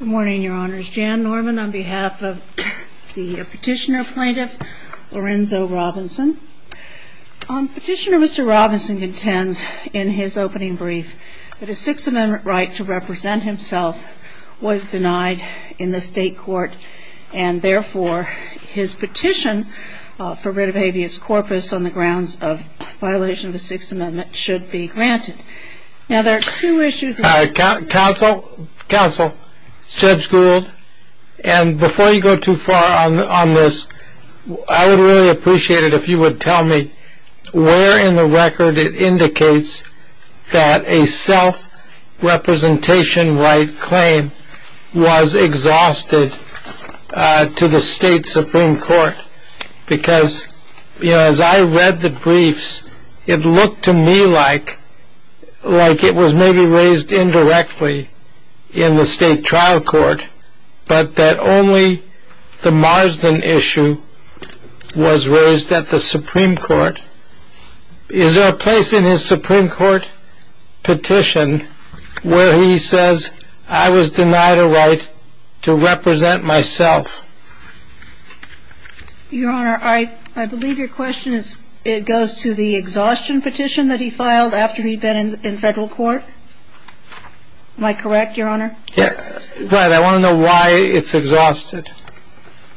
Good morning, your honors. Jan Norman on behalf of the petitioner plaintiff Lorenzo Robinson. Petitioner Mr. Robinson contends in his opening brief that a Sixth Amendment right to represent himself was denied in the state court and therefore his petition for writ of habeas corpus on the grounds of violation of the Sixth Amendment should be granted. Counsel Judge Gould and before you go too far on this I would really appreciate it if you would tell me where in the record it indicates that a self-representation right claim was exhausted to the state Supreme Court because as I read the briefs it looked to me like it was maybe raised indirectly in the state trial court but that only the Marsden issue was raised at the Supreme Court. Is there a place in his Supreme Court petition where he says I was denied a right to represent myself? Your honor, I believe your question goes to the exhaustion petition that he filed after he'd been in federal court. Am I correct, your honor? Right. I want to know why it's exhausted.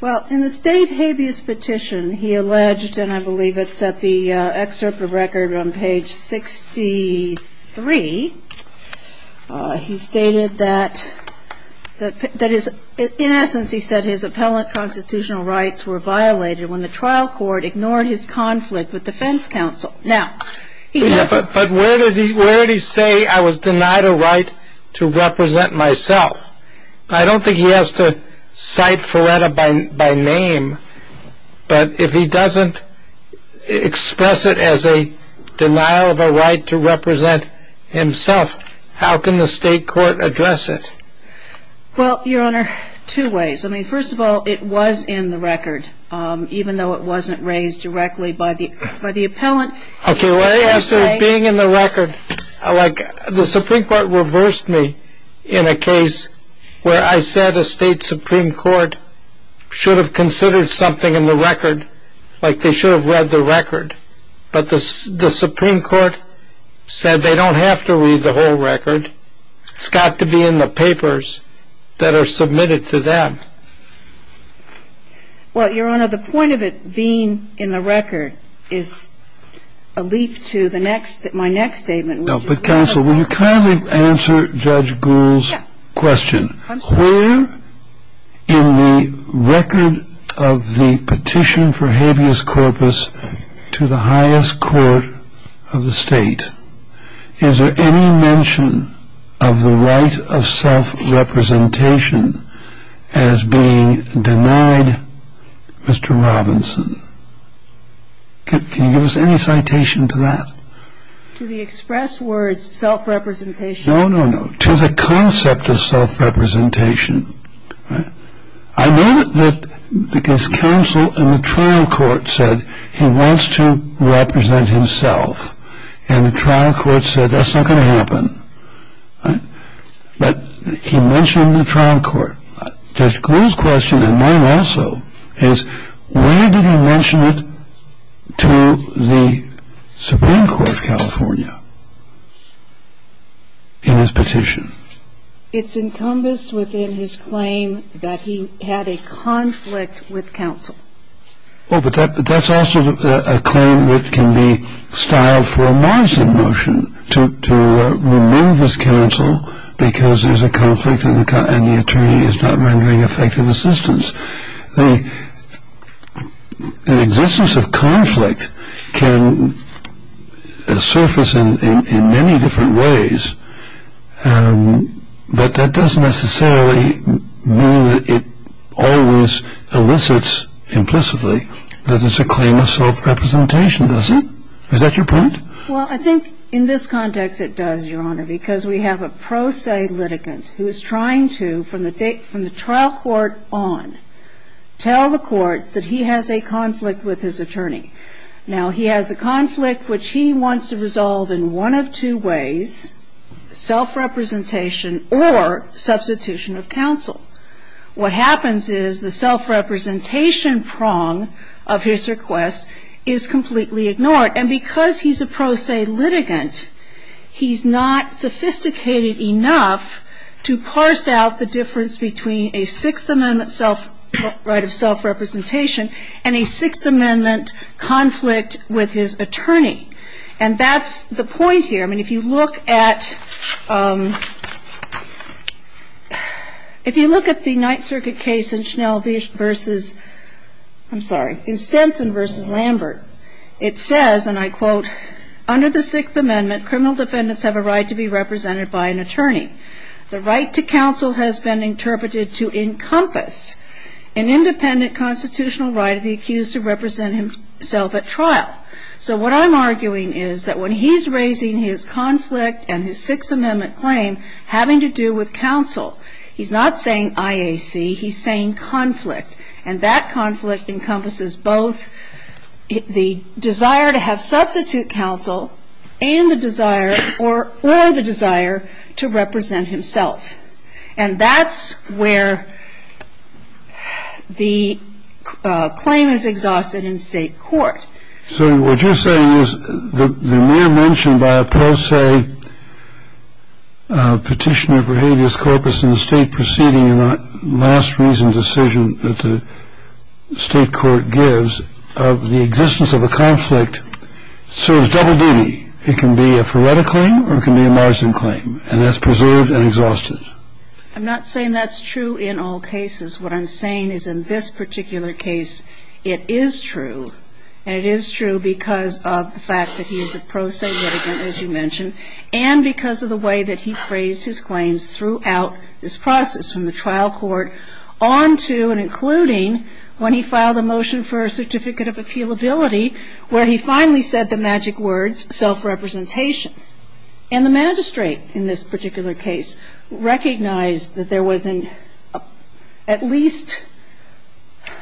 Well, in the state habeas petition he alleged, and I believe it's at the excerpt of record on page 63, he stated that in essence he said his appellate constitutional rights were violated when the trial court ignored his conflict with defense counsel. But where did he say I was denied a right to represent myself? I don't think he has to cite Feretta by name, but if he doesn't express it as a denial of a right to represent himself, how can the state court address it? Well, your honor, two ways. I mean, first of all, it was in the record even though it wasn't raised directly by the appellant. Okay, well, after being in the record, like the Supreme Court reversed me in a case where I said a state Supreme Court should have considered something in the record, like they should have read the record. But the Supreme Court said they don't have to read the whole record. It's got to be in the papers that are submitted to them. Well, your honor, the point of it being in the record is a leap to my next statement. But counsel, will you kindly answer Judge Gould's question? Where in the record of the petition for habeas corpus to the highest court of the state is there any mention of the right of self-representation as being denied Mr. Robinson? Can you give us any citation to that? To the express words self-representation? No, no, no, to the concept of self-representation. I know that his counsel in the trial court said he wants to represent himself and the trial court said that's not going to happen. But he mentioned the trial court. Judge Gould's question, and mine also, is where did he mention it to the Supreme Court of California in his petition? It's encompassed within his claim that he had a conflict with counsel. Oh, but that's also a claim that can be styled for a Morrison motion, to remove his counsel because there's a conflict and the attorney is not rendering effective assistance. The existence of conflict can surface in many different ways, but that doesn't necessarily mean that it always elicits implicitly that it's a claim of self-representation, does it? Is that your point? Well, I think in this context it does, Your Honor, because we have a pro se litigant who is trying to, from the trial court on, tell the courts that he has a conflict with his attorney. Now, he has a conflict which he wants to resolve in one of two ways, self-representation or substitution of counsel. What happens is the self-representation prong of his request is completely ignored and because he's a pro se litigant, he's not sophisticated enough to parse out the difference between a Sixth Amendment right of self-representation and a Sixth Amendment conflict with his attorney. And that's the point here. I mean, if you look at the Ninth Circuit case in Stenson v. Lambert, it says, and I quote, Under the Sixth Amendment, criminal defendants have a right to be represented by an attorney. The right to counsel has been interpreted to encompass an independent constitutional right of the accused to represent himself at trial. So what I'm arguing is that when he's raising his conflict and his Sixth Amendment claim having to do with counsel, he's not saying IAC. He's saying conflict. And that conflict encompasses both the desire to have substitute counsel and the desire or the desire to represent himself. And that's where the claim is exhausted in state court. So what you're saying is the mere mention by a pro se petitioner for habeas corpus in the state proceeding in a last reason decision that the state court gives of the existence of a conflict serves double duty. It can be a Feretta claim or it can be a Marsden claim. And that's preserved and exhausted. I'm not saying that's true in all cases. What I'm saying is in this particular case, it is true. And it is true because of the fact that he is a pro se litigant, as you mentioned, and because of the way that he phrased his claims throughout this process, from the trial court on to and including when he filed a motion for a certificate of appealability where he finally said the magic words self-representation. And the magistrate in this particular case recognized that there was at least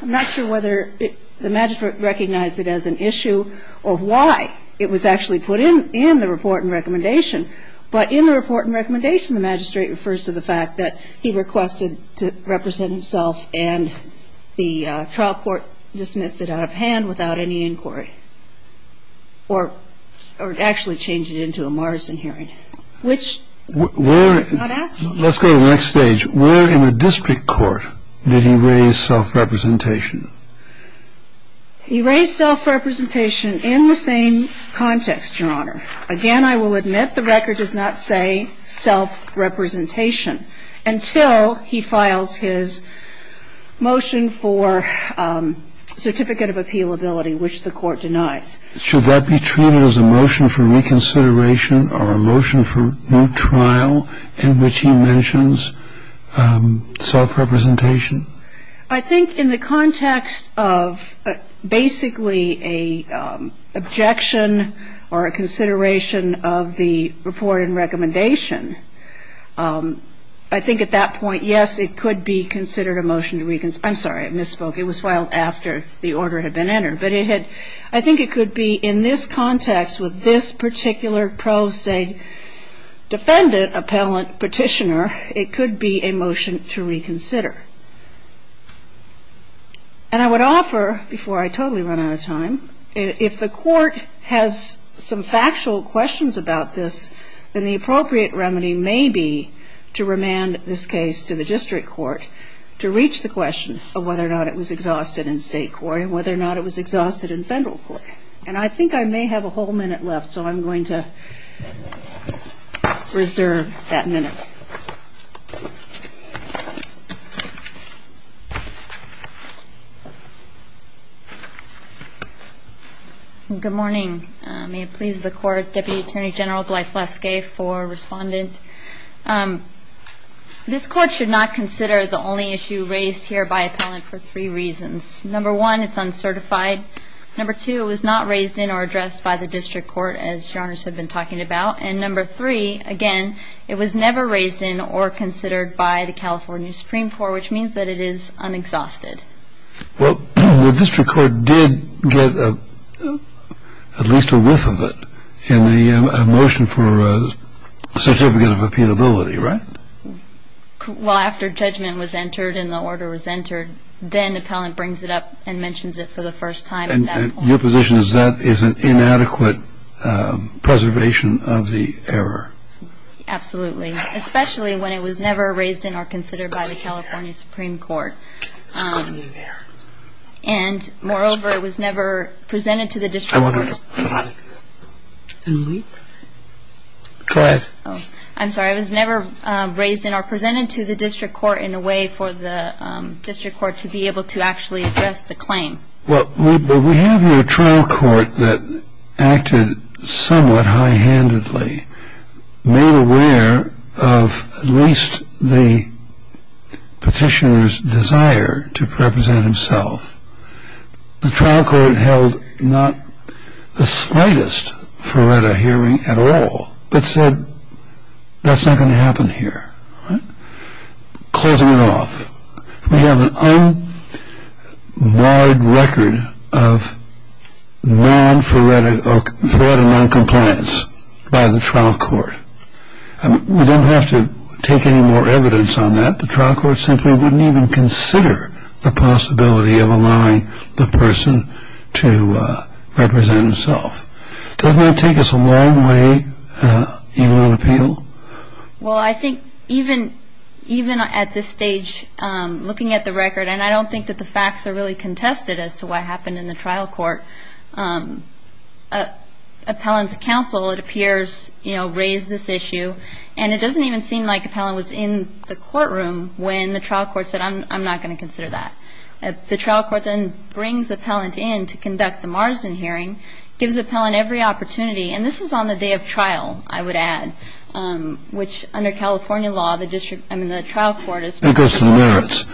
I'm not sure whether the magistrate recognized it as an issue or why it was actually put in the report and recommendation. But in the report and recommendation, the magistrate refers to the fact that he requested to represent himself and the trial court dismissed it out of hand without any inquiry or actually changed it into a Marsden hearing, which we're not asking. Let's go to the next stage. Where in the district court did he raise self-representation? He raised self-representation in the same context, Your Honor. Again, I will admit the record does not say self-representation until he files his motion for certificate of appealability, which the Court denies. Should that be treated as a motion for reconsideration or a motion for new trial in which he mentions self-representation? I think in the context of basically an objection or a consideration of the report and recommendation, I think at that point, yes, it could be considered a motion to reconsider. I'm sorry, I misspoke. It was filed after the order had been entered. But I think it could be in this context with this particular pro se defendant appellant petitioner, it could be a motion to reconsider. And I would offer, before I totally run out of time, if the Court has some factual questions about this, then the appropriate remedy may be to remand this case to the district court to reach the question of whether or not it was exhausted in state court and whether or not it was exhausted in federal court. And I think I may have a whole minute left, so I'm going to reserve that minute. Good morning. May it please the Court, Deputy Attorney General Gleifuske for Respondent. This Court should not consider the only issue raised here by appellant for three reasons. Number one, it's uncertified. Number two, it was not raised in or addressed by the district court, as Your Honor has been talking about. And number three, again, it was never raised in or considered by the California Supreme Court, which means that it is unexhausted. Well, the district court did get at least a whiff of it in the motion for certificate of appealability, right? Well, after judgment was entered and the order was entered, then appellant brings it up and mentions it for the first time. And your position is that is an inadequate preservation of the error? Absolutely. Especially when it was never raised in or considered by the California Supreme Court. And moreover, it was never presented to the district court. Go ahead. I'm sorry. It was never raised in or presented to the district court in a way for the district court to be able to actually address the claim. Well, we have here a trial court that acted somewhat high-handedly, made aware of at least the petitioner's desire to represent himself. The trial court held not the slightest Feretta hearing at all, but said that's not going to happen here, right? Closing it off. We have an unlawed record of non-Feretta noncompliance by the trial court. We don't have to take any more evidence on that. The trial court simply wouldn't even consider the possibility of allowing the person to represent himself. Doesn't that take us a long way even on appeal? Well, I think even at this stage, looking at the record, and I don't think that the facts are really contested as to what happened in the trial court, appellant's counsel, it appears, you know, raised this issue. And it doesn't even seem like appellant was in the courtroom when the trial court said, I'm not going to consider that. The trial court then brings appellant in to conduct the Marsden hearing, gives appellant every opportunity. And this is on the day of trial, I would add, which under California law, the district, I mean, the trial court is. It goes to the merits.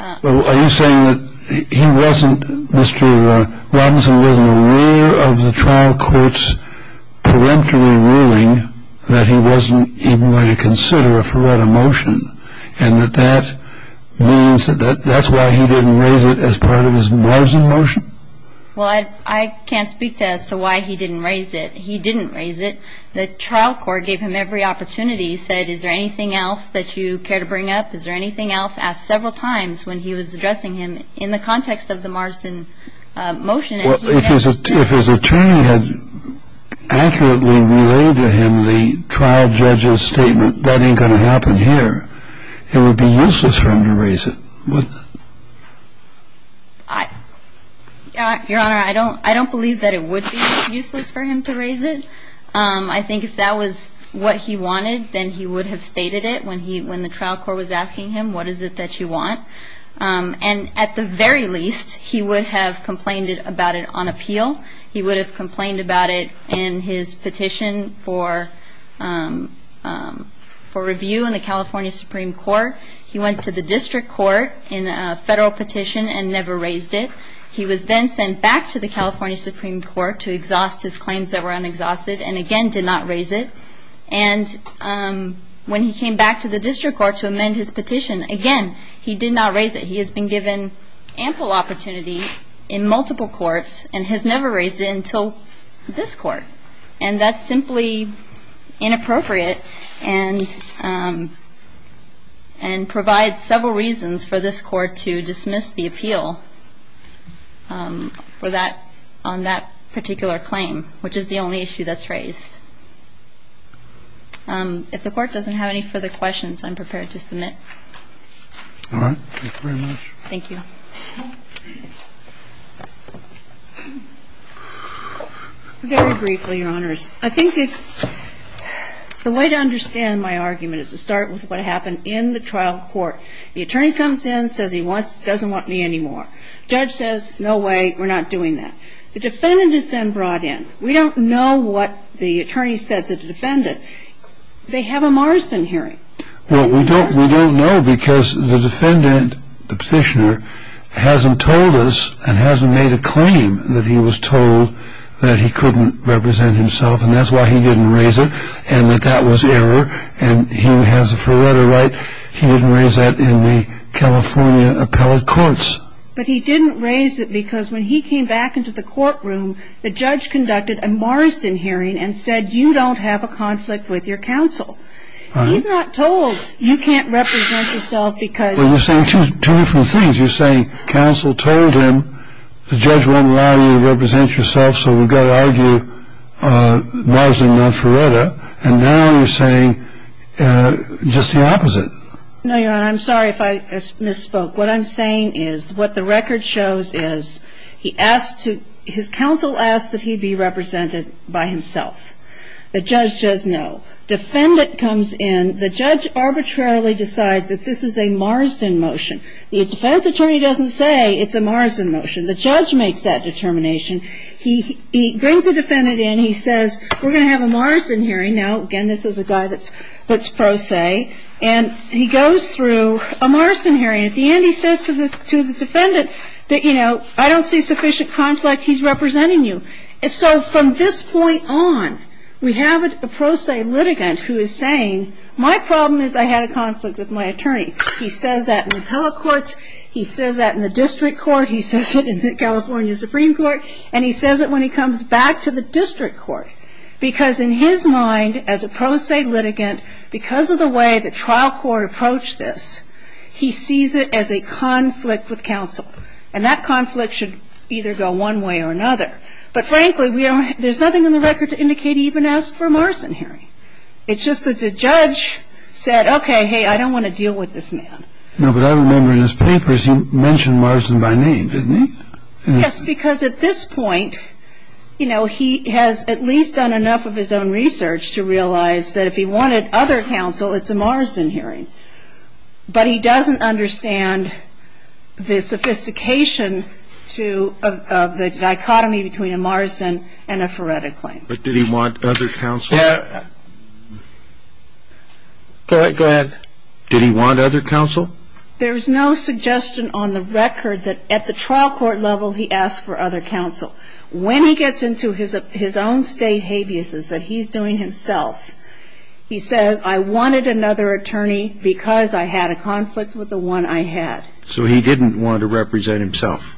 Are you saying that he wasn't, Mr. Robinson wasn't aware of the trial court's peremptory ruling that he wasn't even going to consider a Feretta motion and that that means that that's why he didn't raise it as part of his Marsden motion? Well, I can't speak to as to why he didn't raise it. He didn't raise it. The trial court gave him every opportunity, said, is there anything else that you care to bring up? Is there anything else? Asked several times when he was addressing him in the context of the Marsden motion. Well, if his attorney had accurately relayed to him the trial judge's statement, that ain't going to happen here, it would be useless for him to raise it. Your Honor, I don't believe that it would be useless for him to raise it. I think if that was what he wanted, then he would have stated it when the trial court was asking him, what is it that you want? And at the very least, he would have complained about it on appeal. He would have complained about it in his petition for review in the California Supreme Court. He went to the district court in a federal petition and never raised it. He was then sent back to the California Supreme Court to exhaust his claims that were unexhausted and, again, did not raise it. And when he came back to the district court to amend his petition, again, he did not raise it. He has been given ample opportunity in multiple courts and has never raised it until this court. And that's simply inappropriate. And I think that's the only issue that's raised. If the court doesn't have any further questions, I'm prepared to submit. All right. Thank you very much. Thank you. Very briefly, Your Honors, I think that the way to go about this is to look at the trial court. The attorney comes in, says he doesn't want me anymore. The judge says, no way, we're not doing that. The defendant is then brought in. We don't know what the attorney said to the defendant. They have a Morrison hearing. Well, we don't know because the defendant, the petitioner, hasn't told us and hasn't made a claim that he was told that he couldn't represent himself, and that's why he didn't raise it, and that that was error. And he has a forerunner right. He didn't raise that in the California appellate courts. But he didn't raise it because when he came back into the courtroom, the judge conducted a Morrison hearing and said, you don't have a conflict with your counsel. He's not told, you can't represent yourself because of that. Well, you're saying two different things. You're saying counsel told him, the judge won't allow you to represent yourself, so we've got to argue Morrison-Nonferretta. And now you're saying just the opposite. No, Your Honor, I'm sorry if I misspoke. What I'm saying is what the record shows is he asked to his counsel asked that he be represented by himself. The judge says no. Defendant comes in. The judge arbitrarily decides that this is a Morrison motion. The defense attorney doesn't say it's a Morrison motion. The judge makes that determination. He brings a defendant in. He says, we're going to have a Morrison hearing. Now, again, this is a guy that's pro se. And he goes through a Morrison hearing. At the end, he says to the defendant that, you know, I don't see sufficient conflict, he's representing you. So from this point on, we have a pro se litigant who is saying, my problem is I had a conflict with my attorney. He says that in appellate courts. He says that in the district court. He says it in the California Supreme Court. And he says it when he comes back to the district court. Because in his mind, as a pro se litigant, because of the way the trial court approached this, he sees it as a conflict with counsel. And that conflict should either go one way or another. But, frankly, there's nothing in the record to indicate he even asked for a Morrison hearing. It's just that the judge said, okay, hey, I don't want to deal with this man. Now, what I remember in his papers, he mentioned Morrison by name, didn't he? Yes, because at this point, you know, he has at least done enough of his own research to realize that if he wanted other counsel, it's a Morrison hearing. But he doesn't understand the sophistication of the dichotomy between a Morrison and a Faretta claim. But did he want other counsel? Go ahead. Did he want other counsel? There's no suggestion on the record that at the trial court level he asked for other counsel. When he gets into his own state habeas, that he's doing himself, he says, I wanted another attorney because I had a conflict with the one I had. So he didn't want to represent himself.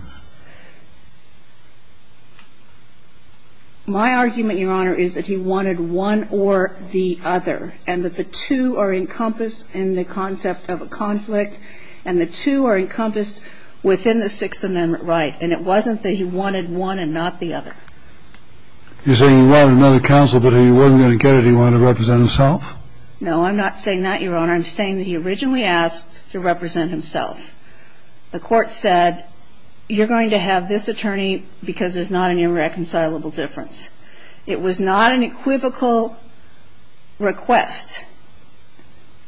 My argument, Your Honor, is that he wanted one or the other. And that the two are encompassed in the concept of a conflict. And the two are encompassed within the Sixth Amendment right. And it wasn't that he wanted one and not the other. You're saying he wanted another counsel, but he wasn't going to get it, he wanted to represent himself? No, I'm not saying that, Your Honor. I'm saying that he originally asked to represent himself. The court said, you're going to have this attorney because there's not an irreconcilable difference. It was not an equivocal request.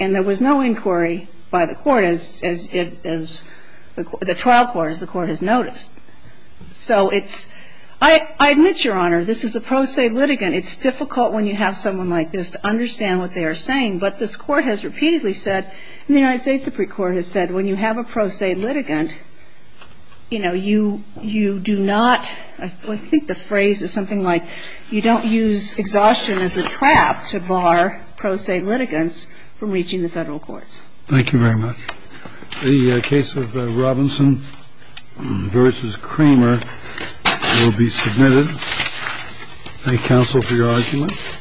And there was no inquiry by the court, as the trial court, as the court has noticed. So it's, I admit, Your Honor, this is a pro se litigant. It's difficult when you have someone like this to understand what they are saying. But this court has repeatedly said, and the United States Supreme Court has said, when you have a pro se litigant, you know, you do not, I think the phrase is something like, you don't use exhaustion as a trap to bar pro se litigants from reaching the Federal courts. Thank you very much. The case of Robinson v. Kramer will be submitted. Thank you, counsel, for your argument.